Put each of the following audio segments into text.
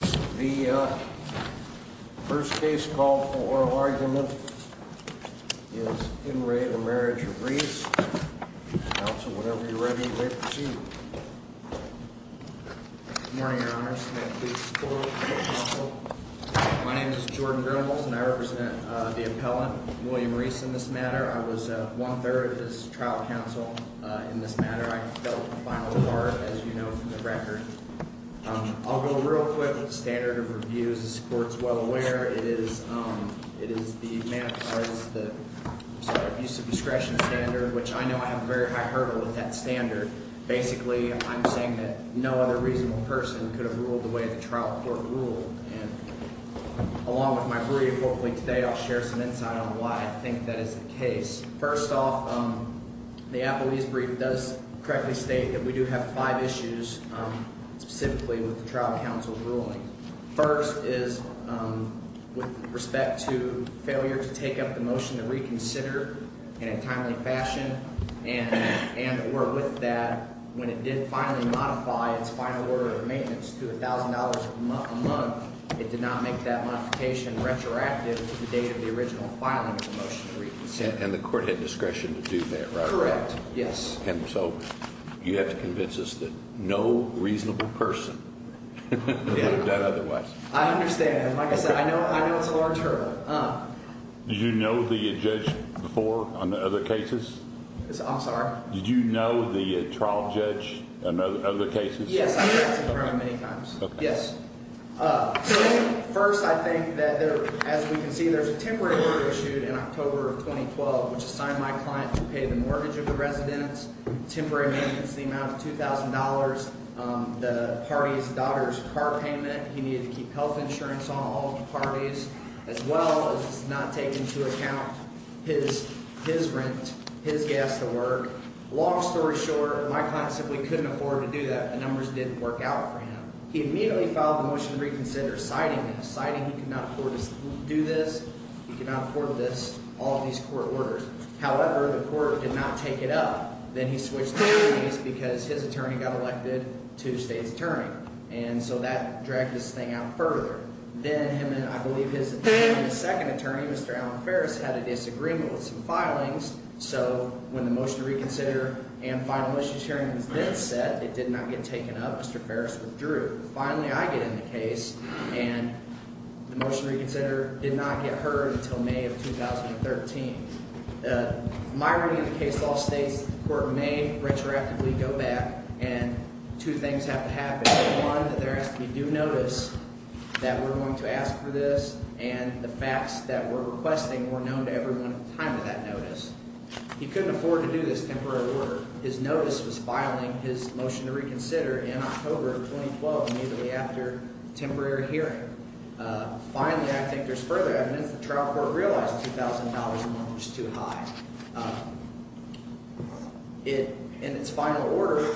The first case called for oral argument is In Re of Marriage of Rees. Counsel, whenever you're ready, please proceed. Good morning, Your Honor. May I please call the trial counsel? My name is Jordan Grimels, and I represent the appellant, William Rees, in this matter. I was one-third of this trial counsel in this matter. I fell to the final four, as you know from the record. I'll go real quick with the standard of reviews. This court is well aware it is the manifest the sort of use of discretion standard, which I know I have a very high hurdle with that standard. Basically, I'm saying that no other reasonable person could have ruled the way the trial court ruled. And along with my brief, hopefully today I'll share some insight on why I think that is the case. First off, the appellee's brief does correctly state that we do have five issues specifically with the trial counsel ruling. First is with respect to failure to take up the motion to reconsider in a timely fashion. And or with that, when it did finally modify its final order of maintenance to $1,000 a month, it did not make that modification retroactive to the date of the original filing of the motion to reconsider. And the court had discretion to do that, right? Correct, yes. And so you have to convince us that no reasonable person would have done otherwise. I understand. Like I said, I know it's a large hurdle. Did you know the judge before on the other cases? I'm sorry? Did you know the trial judge on the other cases? Yes, I've talked to him many times. Yes. First, I think that, as we can see, there's a temporary order issued in October of 2012, which assigned my client to pay the mortgage of the residence, temporary maintenance, the amount of $2,000, the party's daughter's car payment. He needed to keep health insurance on all the parties, as well as not take into account his rent, his gas to work. Long story short, my client simply couldn't afford to do that. The numbers didn't work out for him. He immediately filed the motion to reconsider, citing this, citing he could not afford to do this, he could not afford this, all of these court orders. However, the court did not take it up. Then he switched attorneys because his attorney got elected to the state's attorney. And so that dragged this thing out further. Then him and, I believe, his second attorney, Mr. Alan Ferris, had a disagreement with some filings. So when the motion to reconsider and final issues hearing was then set, it did not get taken up. Mr. Ferris withdrew. Finally, I get in the case, and the motion to reconsider did not get heard until May of 2013. My reading of the case law states the court may retroactively go back, and two things have to happen. One, that there has to be due notice that we're going to ask for this, and the facts that we're requesting were known to everyone at the time of that notice. He couldn't afford to do this temporary order. His notice was filing his motion to reconsider in October of 2012, immediately after the temporary hearing. Finally, I think there's further evidence the trial court realized $2,000 a month was too high. It, in its final order,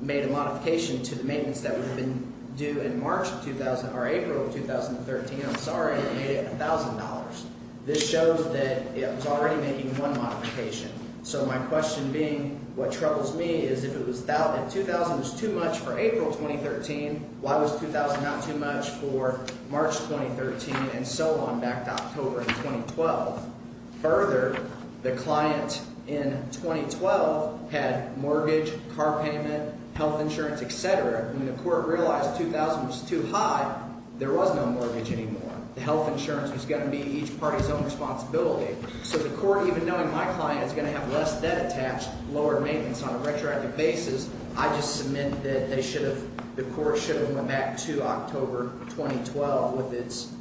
made a modification to the maintenance that would have been due in April of 2013. I'm sorry, it made it $1,000. This shows that it was already making one modification. So my question being, what troubles me is if $2,000 was too much for April of 2013, why was $2,000 not too much for March of 2013 and so on back to October of 2012? Further, the client in 2012 had mortgage, car payment, health insurance, et cetera. When the court realized $2,000 was too high, there was no mortgage anymore. The health insurance was going to be each party's own responsibility. So the court, even knowing my client is going to have less debt attached, lower maintenance on a retroactive basis, I just submit that they should have, the court should have went back to October 2012 with its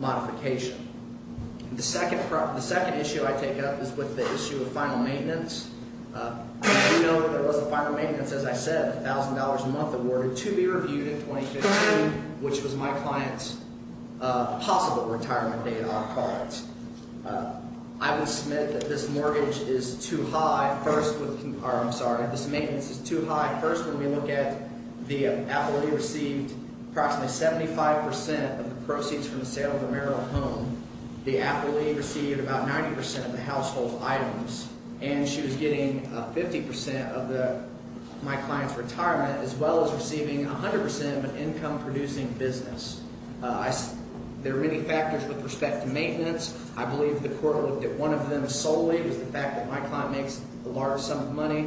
modification. The second issue I take up is with the issue of final maintenance. I do know that there was a final maintenance, as I said, $1,000 a month awarded to be reviewed in 2015, which was my client's possible retirement date on cards. I would submit that this mortgage is too high first with – or I'm sorry, this maintenance is too high first when we look at the appellee received approximately 75% of the proceeds from the sale of the marital home. The appellee received about 90% of the household items, and she was getting 50% of my client's retirement as well as receiving 100% of an income-producing business. There are many factors with respect to maintenance. I believe the court looked at one of them solely, which is the fact that my client makes a large sum of money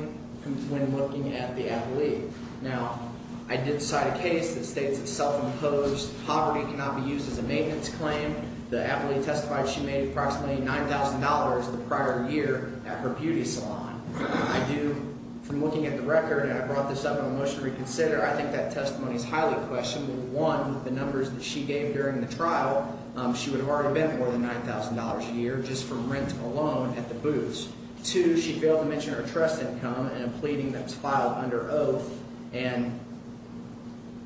when looking at the appellee. Now, I did cite a case that states it's self-imposed, poverty cannot be used as a maintenance claim. The appellee testified she made approximately $9,000 the prior year at her beauty salon. I do, from looking at the record, and I brought this up in a motion to reconsider, I think that testimony is highly questionable. One, the numbers that she gave during the trial, she would have already been more than $9,000 a year just from rent alone at the booths. Two, she failed to mention her trust income in a pleading that was filed under oath, and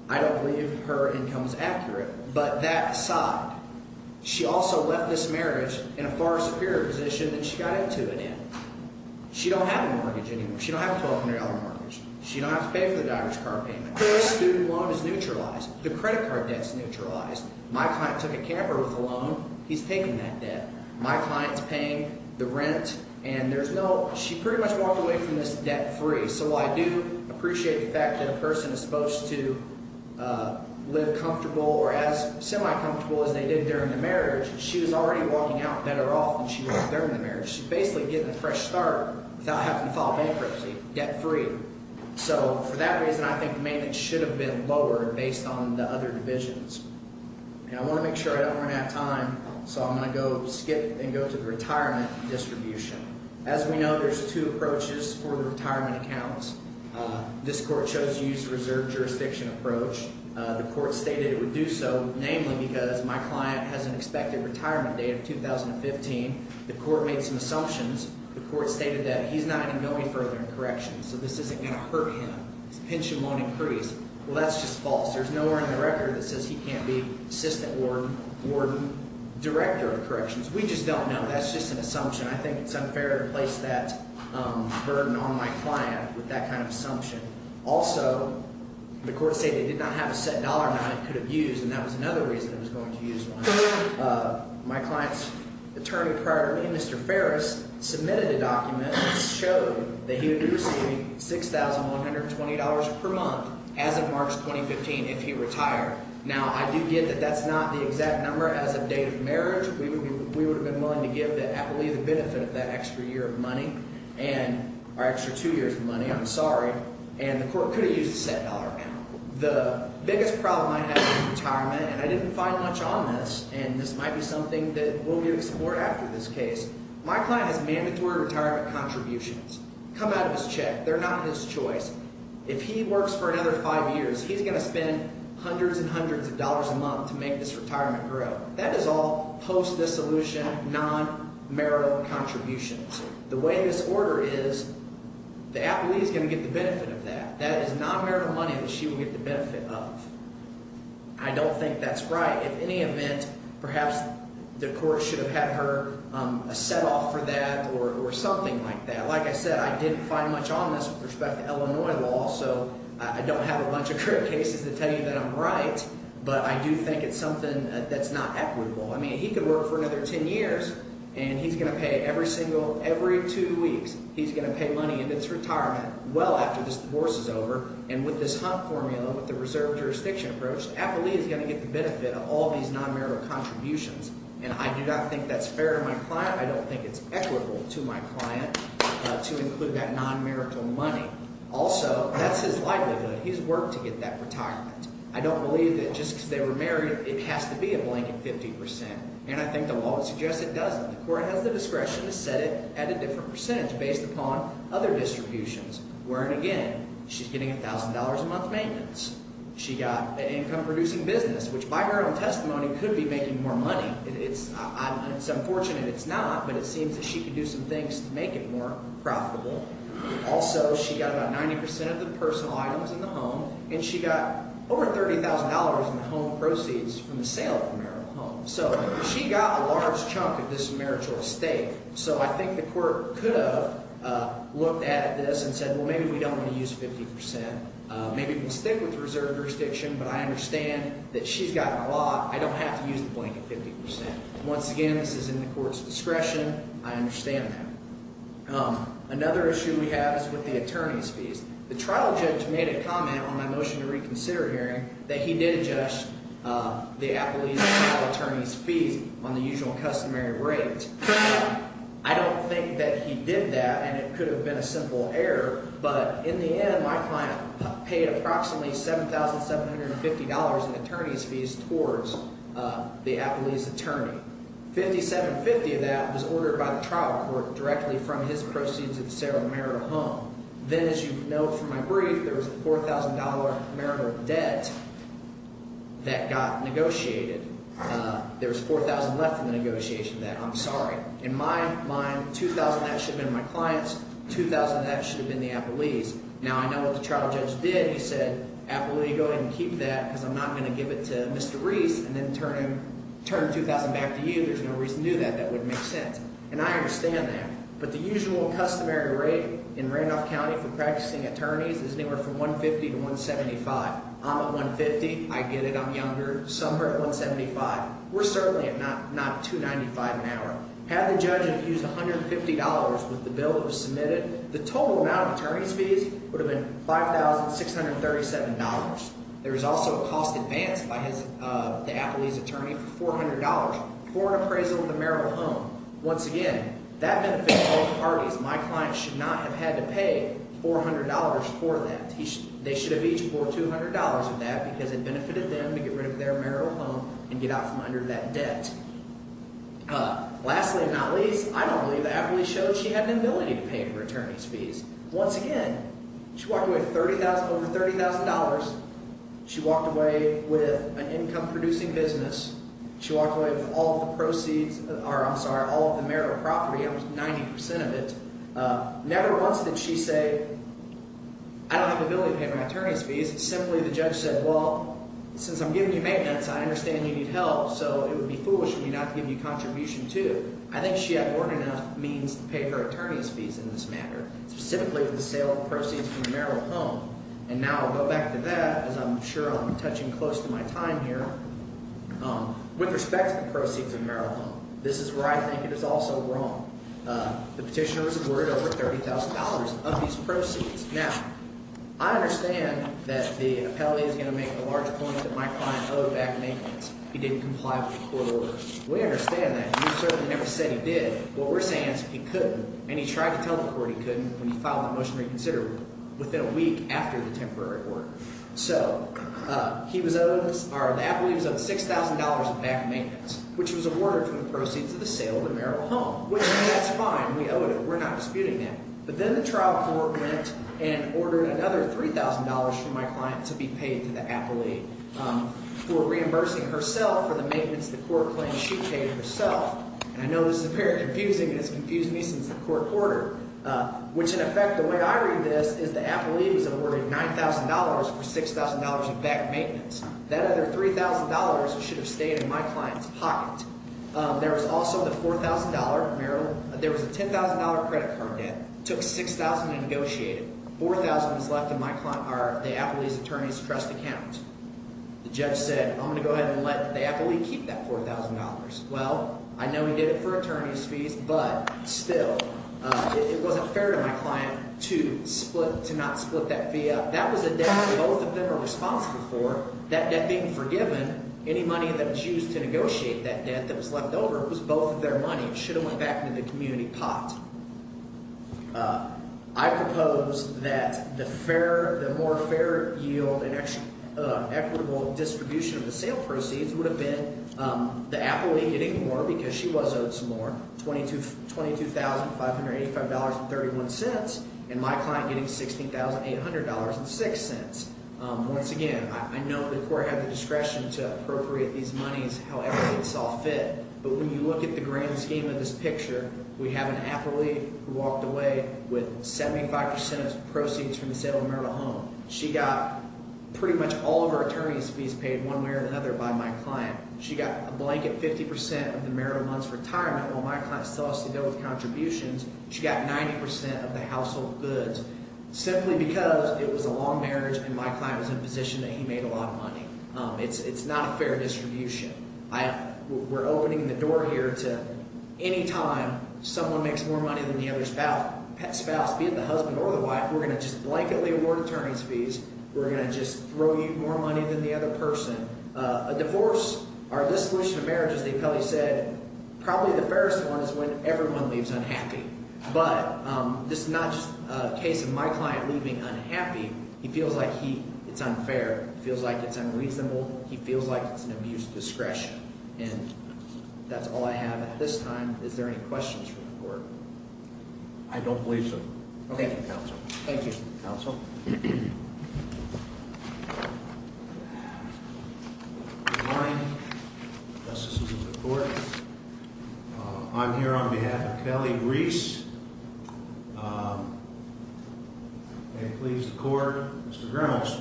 I don't believe her income is accurate. But that aside, she also left this marriage in a far superior position than she got into it in. She don't have a mortgage anymore. She don't have a $1,200 mortgage. She don't have to pay for the driver's car payment. Her student loan is neutralized. The credit card debt is neutralized. My client took a camper with a loan. He's taking that debt. My client's paying the rent, and there's no – she pretty much walked away from this debt-free. So while I do appreciate the fact that a person is supposed to live comfortable or as semi-comfortable as they did during the marriage, she was already walking out better off than she was during the marriage. She's basically getting a fresh start without having to file bankruptcy, debt-free. So for that reason, I think the maintenance should have been lowered based on the other divisions. And I want to make sure I don't run out of time, so I'm going to go skip and go to the retirement distribution. As we know, there's two approaches for the retirement accounts. This court chose to use the reserve jurisdiction approach. The court stated it would do so namely because my client has an expected retirement date of 2015. The court made some assumptions. The court stated that he's not going to go any further in corrections, so this isn't going to hurt him. His pension won't increase. Well, that's just false. There's nowhere in the record that says he can't be assistant warden, director of corrections. We just don't know. That's just an assumption. I think it's unfair to place that burden on my client with that kind of assumption. Also, the court stated it did not have a set dollar amount it could have used, and that was another reason it was going to use one. My client's attorney prior to me, Mr. Ferris, submitted a document that showed that he would be receiving $6,120 per month as of March 2015 if he retired. Now, I do get that that's not the exact number. As of date of marriage, we would have been willing to give, I believe, the benefit of that extra year of money and our extra two years of money. I'm sorry. And the court could have used a set dollar amount. The biggest problem I have with retirement, and I didn't find much on this, and this might be something that we'll be able to support after this case. My client has mandatory retirement contributions come out of his check. They're not his choice. If he works for another five years, he's going to spend hundreds and hundreds of dollars a month to make this retirement grow. That is all post-dissolution, non-marital contributions. The way this order is, the athlete is going to get the benefit of that. That is non-marital money that she will get the benefit of. I don't think that's right. In any event, perhaps the court should have had her set off for that or something like that. Like I said, I didn't find much on this with respect to Illinois law, so I don't have a bunch of current cases to tell you that I'm right. But I do think it's something that's not equitable. I mean he could work for another ten years, and he's going to pay every single – every two weeks, he's going to pay money in his retirement well after this divorce is over. And with this Hunt formula, with the reserve jurisdiction approach, the athlete is going to get the benefit of all these non-marital contributions. And I do not think that's fair to my client. I don't think it's equitable to my client to include that non-marital money. Also, that's his livelihood. He's worked to get that retirement. I don't believe that just because they were married it has to be a blank at 50%. And I think the law suggests it doesn't. The court has the discretion to set it at a different percentage based upon other distributions. Where, again, she's getting $1,000 a month maintenance. She got an income-producing business, which by her own testimony could be making more money. It's unfortunate it's not, but it seems that she could do some things to make it more profitable. Also, she got about 90% of the personal items in the home, and she got over $30,000 in home proceeds from the sale of the marital home. So she got a large chunk of this marital estate. So I think the court could have looked at this and said, well, maybe we don't want to use 50%. Maybe we'll stick with the reserve jurisdiction, but I understand that she's gotten a lot. I don't have to use the blank at 50%. Once again, this is in the court's discretion. I understand that. Another issue we have is with the attorney's fees. The trial judge made a comment on my motion to reconsider hearing that he did adjust the Applebee's trial attorney's fees on the usual customary rate. I don't think that he did that, and it could have been a simple error. But in the end, my client paid approximately $7,750 in attorney's fees towards the Applebee's attorney. $7,750 of that was ordered by the trial court directly from his proceeds of the sale of the marital home. Then, as you know from my brief, there was a $4,000 marital debt that got negotiated. There was $4,000 left in the negotiation of that. I'm sorry. In my mind, $2,000 of that should have been my client's. $2,000 of that should have been the Applebee's. Now, I know what the trial judge did. He said, Applebee, go ahead and keep that because I'm not going to give it to Mr. Reese and then turn $2,000 back to you. There's no reason to do that. That wouldn't make sense. And I understand that. But the usual customary rate in Randolph County for practicing attorneys is anywhere from $150 to $175. I'm at $150. I get it. I'm younger. Somewhere at $175. We're certainly at not $295 an hour. Had the judge used $150 with the bill that was submitted, the total amount of attorney's fees would have been $5,637. There was also a cost advance by the Applebee's attorney for $400 for an appraisal of the marital home. Once again, that benefited both parties. My client should not have had to pay $400 for that. They should have each borrowed $200 of that because it benefited them to get rid of their marital home and get out from under that debt. Lastly, if not least, I don't believe that Applebee's showed she had an ability to pay for attorney's fees. Once again, she walked away with over $30,000. She walked away with an income-producing business. She walked away with all of the proceeds – or I'm sorry, all of the marital property. That was 90% of it. Never once did she say, I don't have the ability to pay my attorney's fees. Simply the judge said, well, since I'm giving you maintenance, I understand you need help, so it would be foolish of me not to give you contribution too. I think she had learned enough means to pay for attorney's fees in this matter, specifically with the sale of proceeds from the marital home. And now I'll go back to that because I'm sure I'm touching close to my time here. With respect to the proceeds of the marital home, this is where I think it is also wrong. The petitioner was awarded over $30,000 of these proceeds. Now, I understand that the appellee is going to make the large point that my client owed back maintenance. He didn't comply with the court order. We understand that. You certainly never said he did. What we're saying is he couldn't, and he tried to tell the court he couldn't when he filed the motion reconsidered within a week after the temporary order. So he was owed – or the appellee was owed $6,000 of back maintenance, which was awarded from the proceeds of the sale of the marital home, which that's fine. We owed it. We're not disputing that. But then the trial court went and ordered another $3,000 from my client to be paid to the appellee for reimbursing herself for the maintenance of the court claim she paid herself. And I know this is very confusing, and it's confused me since the court order, which, in effect, the way I read this is the appellee was awarded $9,000 for $6,000 of back maintenance. That other $3,000 should have stayed in my client's pocket. There was also the $4,000 marital – there was a $10,000 credit card debt. It took $6,000 to negotiate it. $4,000 is left in my – or the appellee's attorney's trust account. The judge said I'm going to go ahead and let the appellee keep that $4,000. Well, I know he did it for attorney's fees, but still, it wasn't fair to my client to split – to not split that fee up. That was a debt both of them are responsible for, that debt being forgiven. Any money that was used to negotiate that debt that was left over was both of their money. It should have went back into the community pot. I propose that the fair – the more fair yield and equitable distribution of the sale proceeds would have been the appellee getting more because she was owed some more, $22,585.31, and my client getting $16,800.06. Once again, I know the court had the discretion to appropriate these monies however it saw fit, but when you look at the grand scheme of this picture, we have an appellee who walked away with 75 percent of the proceeds from the sale of a marital home. She got pretty much all of her attorney's fees paid one way or another by my client. She got a blanket 50 percent of the marital month's retirement while my client still has to deal with contributions. She got 90 percent of the household goods simply because it was a long marriage and my client was in a position that he made a lot of money. It's not a fair distribution. We're opening the door here to any time someone makes more money than the other spouse, be it the husband or the wife, we're going to just blanketly award attorney's fees. We're going to just throw you more money than the other person. A divorce or a dissolution of marriage, as the appellee said, probably the fairest one is when everyone leaves unhappy. But this is not just a case of my client leaving unhappy. He feels like it's unfair. He feels like it's unreasonable. He feels like it's an abuse of discretion. And that's all I have at this time. Is there any questions from the court? I don't believe so. Thank you, counsel. Thank you. Counsel? Good morning. Justices of the court, I'm here on behalf of Kelly Reese. He pleads the court, Mr. Reynolds,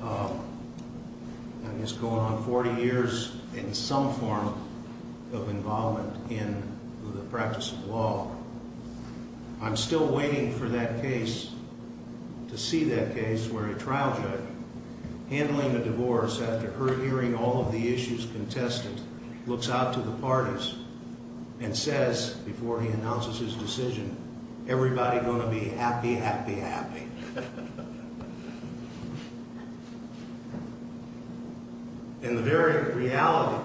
and he's going on 40 years in some form of involvement in the practice of law. I'm still waiting for that case, to see that case where a trial judge handling a divorce after hearing all of the issues contested looks out to the parties and says, before he announces his decision, everybody going to be happy, happy, happy. And the very reality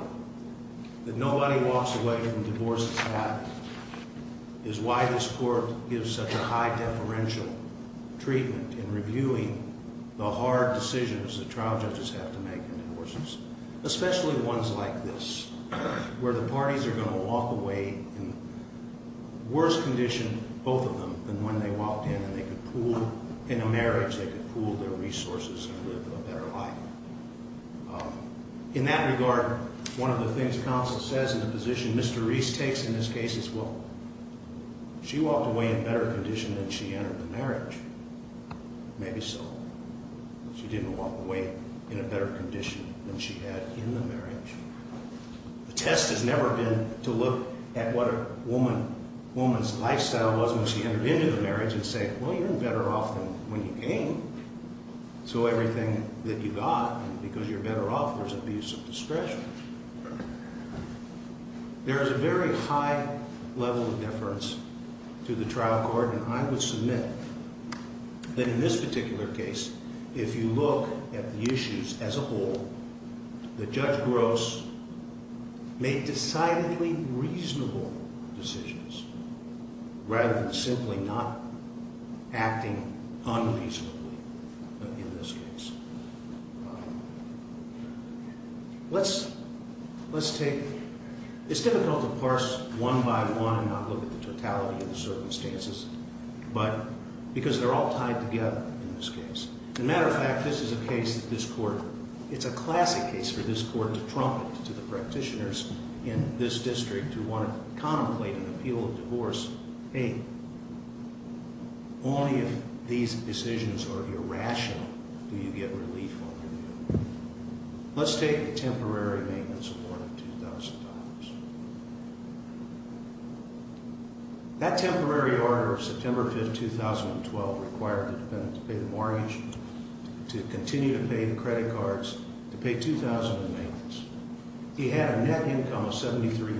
that nobody walks away from divorces happy is why this court gives such a high deferential treatment in reviewing the hard decisions that trial judges have to make in divorces, especially ones like this, where the parties are going to walk away in worse condition, both of them, than when they walked in and they could pool everything they had. In a marriage, they could pool their resources and live a better life. In that regard, one of the things counsel says in the position Mr. Reese takes in this case is, well, she walked away in better condition than she entered the marriage. Maybe so. She didn't walk away in a better condition than she had in the marriage. The test has never been to look at what a woman's lifestyle was when she entered into the marriage and say, well, you're better off than when you came. So everything that you got, because you're better off, there's abuse of discretion. There is a very high level of deference to the trial court, and I would submit that in this particular case, if you look at the issues as a whole, that Judge Gross made decidedly reasonable decisions rather than simply not acting unreasonably in this case. It's difficult to parse one by one and not look at the totality of the circumstances, because they're all tied together in this case. As a matter of fact, it's a classic case for this court to trumpet to the practitioners in this district who want to contemplate an appeal of divorce, hey, only if these decisions are irrational do you get relief on your deal. Let's take a temporary maintenance of more than $2,000. That temporary order of September 5, 2012 required the defendant to pay the mortgage, to continue to pay the credit cards, to pay $2,000 in maintenance. He had a net income of $7,300.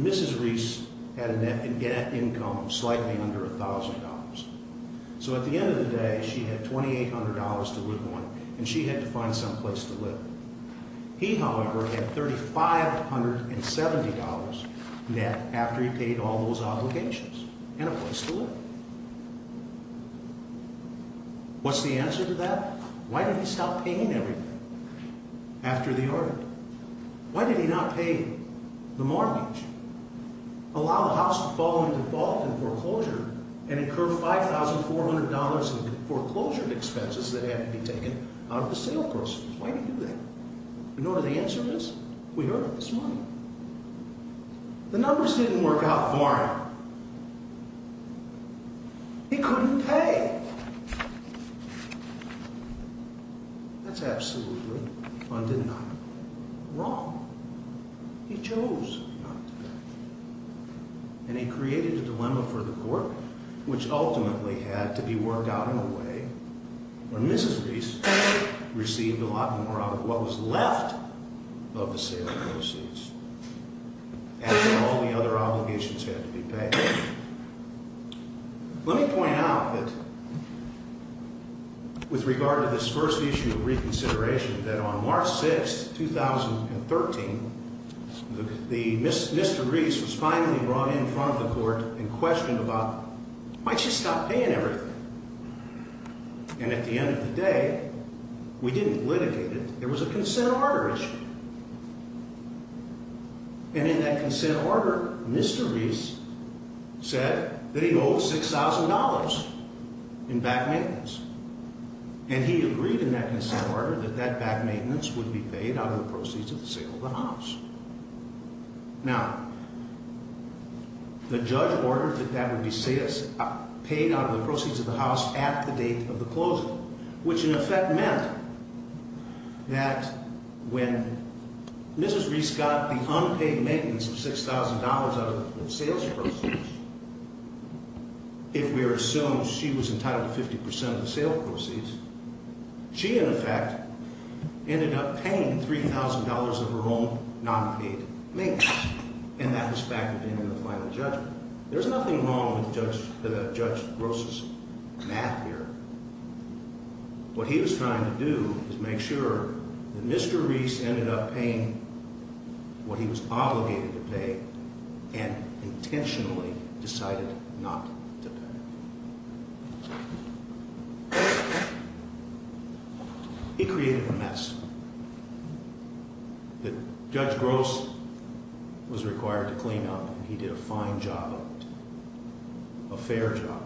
Mrs. Reese had a net income of slightly under $1,000. So at the end of the day, she had $2,800 to live on, and she had to find someplace to live. He, however, had $3,570 net after he paid all those obligations and a place to live. What's the answer to that? Why did he stop paying everything after the order? Why did he not pay the mortgage, allow the house to fall into default and foreclosure, and incur $5,400 in foreclosure expenses that had to be taken out of the sale process? Why did he do that? In order to answer this, we earned this money. The numbers didn't work out for him. He couldn't pay. That's absolutely undeniable wrong. He chose not to pay. And he created a dilemma for the court, which ultimately had to be worked out in a way where Mrs. Reese received a lot more out of what was left of the sale proceeds. After all the other obligations had to be paid. Let me point out that with regard to this first issue of reconsideration, that on March 6, 2013, Mr. Reese was finally brought in front of the court and questioned about, why'd she stop paying everything? And at the end of the day, we didn't litigate it. There was a consent order issue. And in that consent order, Mr. Reese said that he owed $6,000 in back maintenance. And he agreed in that consent order that that back maintenance would be paid out of the proceeds of the sale of the house. Now, the judge ordered that that would be paid out of the proceeds of the house at the date of the closing, which in effect meant that when Mrs. Reese got the unpaid maintenance of $6,000 out of the sales proceeds, if we assume she was entitled to 50% of the sales proceeds, she in effect ended up paying $3,000 of her own nonpaid maintenance. And that was factored in in the final judgment. There's nothing wrong with Judge Gross's math here. What he was trying to do was make sure that Mr. Reese ended up paying what he was obligated to pay and intentionally decided not to pay. He created a mess that Judge Gross was required to clean up, and he did a fine job of it, a fair job.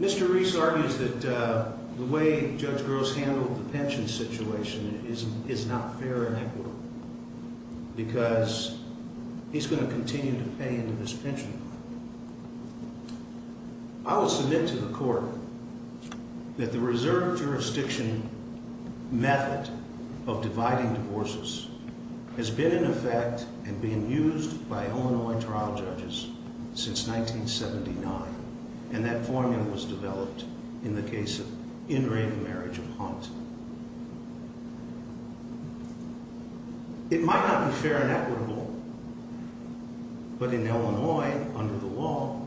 Mr. Reese argues that the way Judge Gross handled the pension situation is not fair and equitable because he's going to continue to pay into this pension. I will submit to the court that the reserve jurisdiction method of dividing divorces has been in effect and being used by Illinois trial judges since 1979, and that formula was developed in the case of in-ring marriage of Hunt. It might not be fair and equitable, but in Illinois, under the law,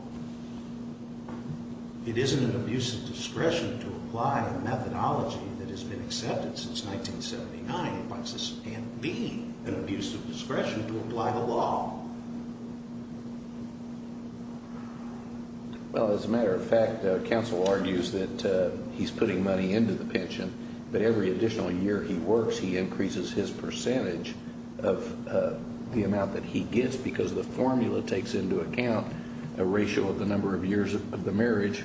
it isn't an abuse of discretion to apply a methodology that has been accepted since 1979. Divorces can't be an abuse of discretion to apply the law. Well, as a matter of fact, counsel argues that he's putting money into the pension, but every additional year he works, he increases his percentage of the amount that he gets because the formula takes into account a ratio of the number of years of the marriage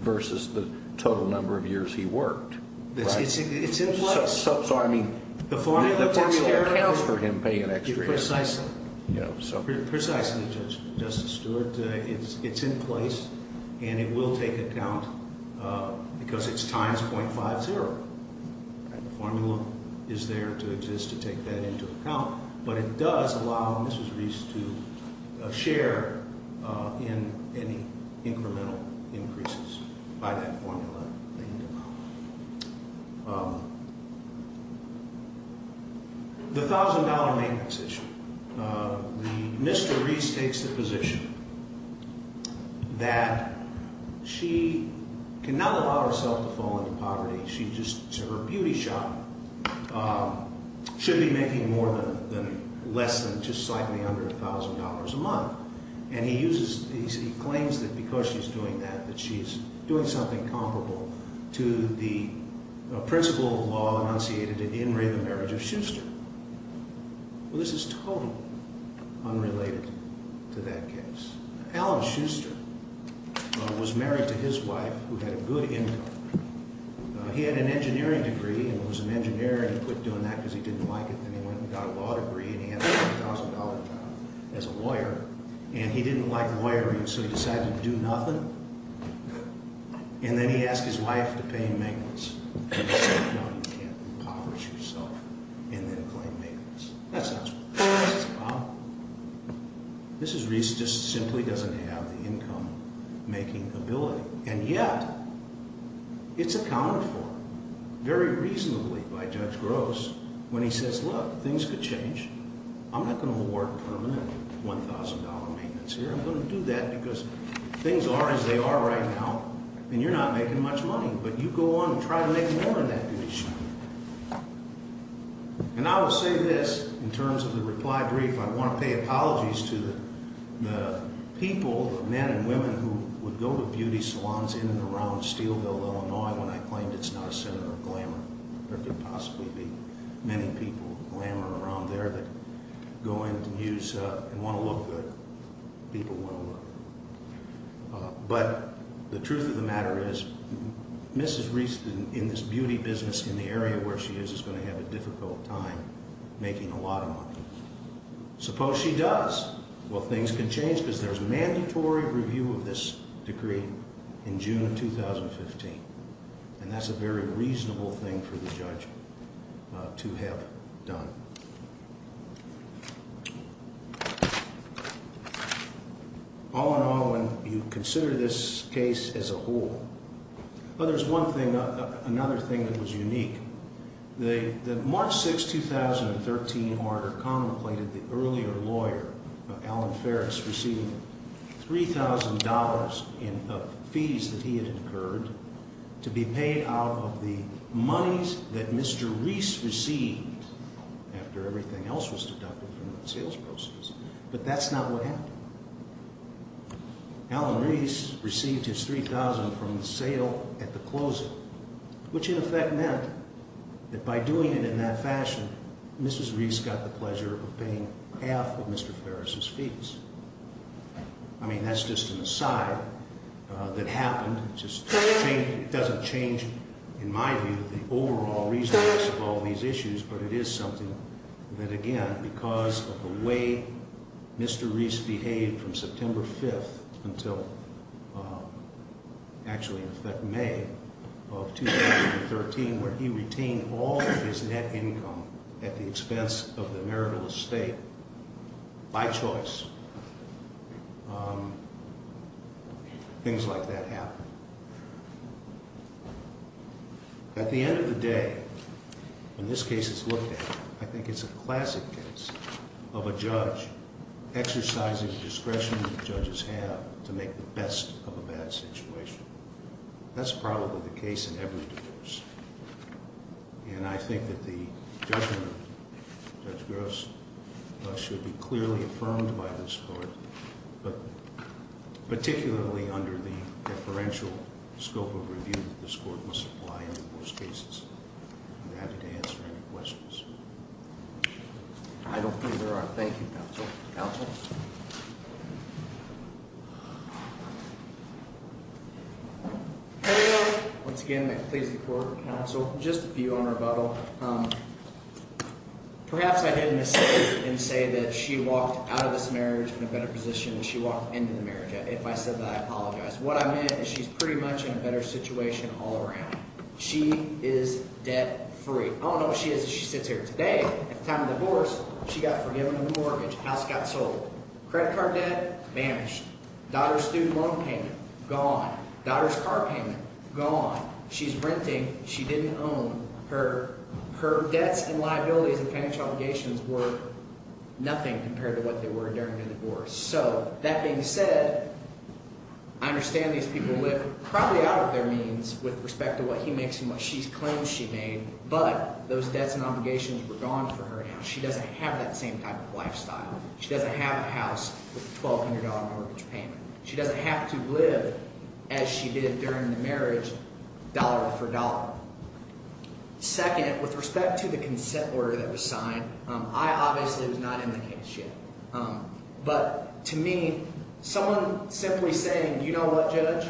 versus the total number of years he worked. So, I mean, the formula accounts for him paying an extra year. Precisely. Precisely, Justice Stewart. It's in place, and it will take account because it's times .50. The formula is there to exist to take that into account, but it does allow Mr. Reese to share in any incremental increases by that formula. The $1,000 maintenance issue. Mr. Reese takes the position that she cannot allow herself to fall into poverty. Her beauty shop should be making less than just slightly under $1,000 a month, and he claims that because she's doing that, that she's doing something comparable. To the principle of law enunciated in In Re, the Marriage of Schuster. Well, this is totally unrelated to that case. Alan Schuster was married to his wife who had a good income. He had an engineering degree and was an engineer, and he quit doing that because he didn't like it. Then he went and got a law degree, and he had a $1,000 job as a lawyer, and he didn't like lawyering, so he decided to do nothing. And then he asked his wife to pay maintenance. She said, no, you can't impoverish yourself and then claim maintenance. That's not what this is about. This is Reese just simply doesn't have the income-making ability, and yet it's accounted for very reasonably by Judge Gross when he says, look, things could change. I'm not going to award permanent $1,000 maintenance here. I'm going to do that because things are as they are right now, and you're not making much money. But you go on and try to make more in that beauty shop. And I will say this in terms of the reply brief. I want to pay apologies to the people, the men and women who would go to beauty salons in and around Steelville, Illinois, when I claimed it's not a center of glamour. There could possibly be many people glamour around there that go in and use and want to look good. People want to look good. But the truth of the matter is Mrs. Reese, in this beauty business, in the area where she is, is going to have a difficult time making a lot of money. Suppose she does. Well, things can change because there's mandatory review of this decree in June of 2015. And that's a very reasonable thing for the judge to have done. All in all, when you consider this case as a whole, there's one thing, another thing that was unique. The March 6, 2013, order contemplated the earlier lawyer, Alan Ferris, receiving $3,000 in fees that he had incurred to be paid out of the monies that Mr. Reese received after everything else was deducted from the sales proceeds. But that's not what happened. Alan Reese received his $3,000 from the sale at the closing, which in effect meant that by doing it in that fashion, Mrs. Reese got the pleasure of paying half of Mr. Ferris' fees. I mean, that's just an aside that happened. It just doesn't change, in my view, the overall reason for all these issues. But it is something that, again, because of the way Mr. Reese behaved from September 5th until, actually, in effect, May of 2013, where he retained all of his net income at the expense of the marital estate by choice, things like that happened. At the end of the day, when this case is looked at, I think it's a classic case of a judge exercising the discretion that judges have to make the best of a bad situation. That's probably the case in every divorce. And I think that the judgment of Judge Gross should be clearly affirmed by this court, but particularly under the deferential scope of review that this court must apply in divorce cases. I'd be happy to answer any questions. I don't think there are. Thank you, counsel. Counsel? Thank you. Once again, may it please the court, counsel, just a few on rebuttal. Perhaps I made a mistake in saying that she walked out of this marriage in a better position than she walked into the marriage. If I said that, I apologize. What I meant is she's pretty much in a better situation all around. She is debt-free. I don't know if she is if she sits here today. At the time of the divorce, she got forgiven on the mortgage. House got sold. Credit card debt? Banished. Daughter's student loan payment? Gone. Daughter's car payment? Gone. She's renting. She didn't own. Her debts and liabilities and financial obligations were nothing compared to what they were during the divorce. So that being said, I understand these people live probably out of their means with respect to what he makes and what she claims she made. But those debts and obligations were gone for her now. She doesn't have that same type of lifestyle. She doesn't have a house with a $1,200 mortgage payment. She doesn't have to live as she did during the marriage dollar for dollar. Second, with respect to the consent order that was signed, I obviously was not in the case yet. But to me, someone simply saying, you know what, Judge?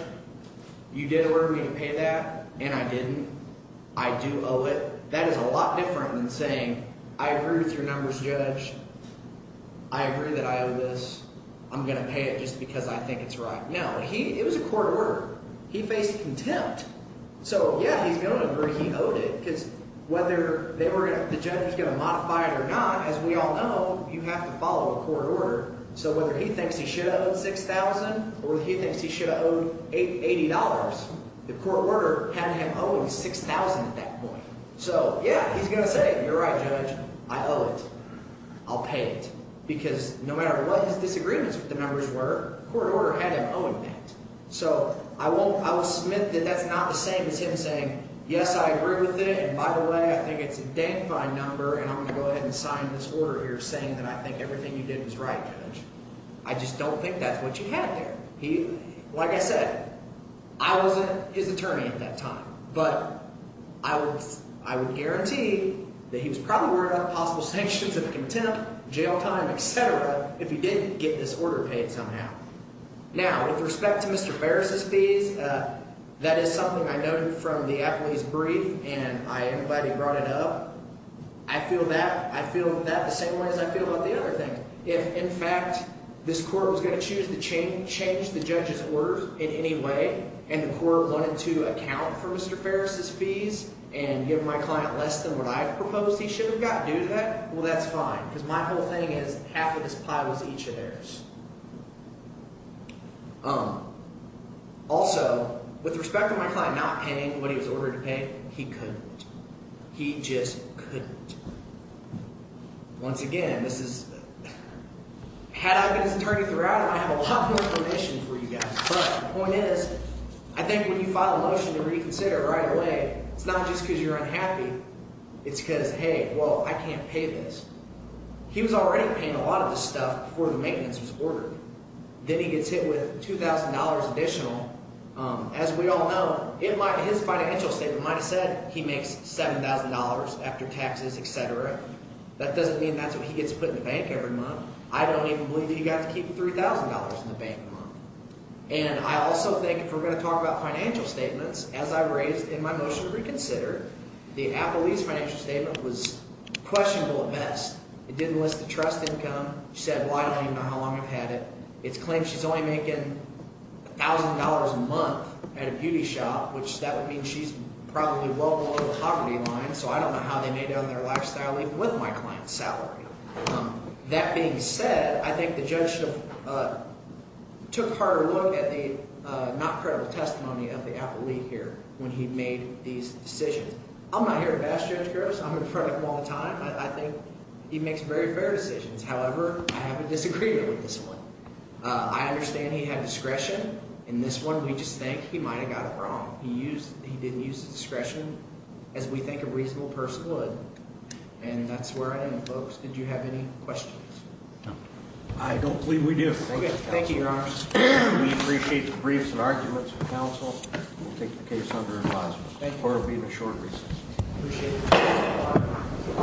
You did order me to pay that, and I didn't. I do owe it. That is a lot different than saying I agree with your numbers, Judge. I agree that I owe this. I'm going to pay it just because I think it's right. No, he – it was a court order. He faced contempt. So, yeah, he's going to agree he owed it because whether they were – the judge is going to modify it or not, as we all know, you have to follow orders. So whether he thinks he should have owed $6,000 or he thinks he should have owed $80, the court order had him owing $6,000 at that point. So, yeah, he's going to say, you're right, Judge. I owe it. I'll pay it because no matter what his disagreements with the numbers were, the court order had him owing that. So I won't – I will submit that that's not the same as him saying, yes, I agree with it. And by the way, I think it's a dank fine number, and I'm going to go ahead and sign this order here saying that I think everything you did was right, Judge. I just don't think that's what you had there. Like I said, I wasn't his attorney at that time. But I would guarantee that he was probably wearing out possible sanctions of contempt, jail time, etc. if he didn't get this order paid somehow. Now, with respect to Mr. Farris's fees, that is something I noted from the affidavit's brief, and I am glad he brought it up. I feel that. I feel that the same way as I feel about the other thing. If, in fact, this court was going to choose to change the judge's order in any way and the court wanted to account for Mr. Farris's fees and give my client less than what I proposed he should have got due to that, well, that's fine because my whole thing is half of this pie was each of theirs. Also, with respect to my client not paying what he was ordered to pay, he couldn't. He just couldn't. Once again, this is – had I been his attorney throughout it, I'd have a lot more permission for you guys. But the point is I think when you file a motion to reconsider right away, it's not just because you're unhappy. It's because, hey, well, I can't pay this. He was already paying a lot of this stuff before the maintenance was ordered. Then he gets hit with $2,000 additional. As we all know, it might – his financial statement might have said he makes $7,000 after taxes, etc. That doesn't mean that's what he gets put in the bank every month. I don't even believe he got to keep $3,000 in the bank a month. And I also think if we're going to talk about financial statements, as I raised in my motion to reconsider, the appellee's financial statement was questionable at best. It didn't list the trust income. She said, well, I don't even know how long I've had it. It claims she's only making $1,000 a month at a beauty shop, which that would mean she's probably well below the poverty line. So I don't know how they made it on their lifestyle even with my client's salary. That being said, I think the judge took a harder look at the not credible testimony of the appellee here when he made these decisions. I'm not here to bash Judge Gross. I'm in front of him all the time. I think he makes very fair decisions. However, I have a disagreement with this one. I understand he had discretion. In this one, we just think he might have got it wrong. He used – he didn't use discretion as we think a reasonable person would, and that's where I am, folks. Did you have any questions? No. I don't believe we do. Okay. Thank you, Your Honor. We appreciate the briefs and arguments from counsel. We'll take the case under advisement. Thank you. Or it will be in a short recess. Appreciate it.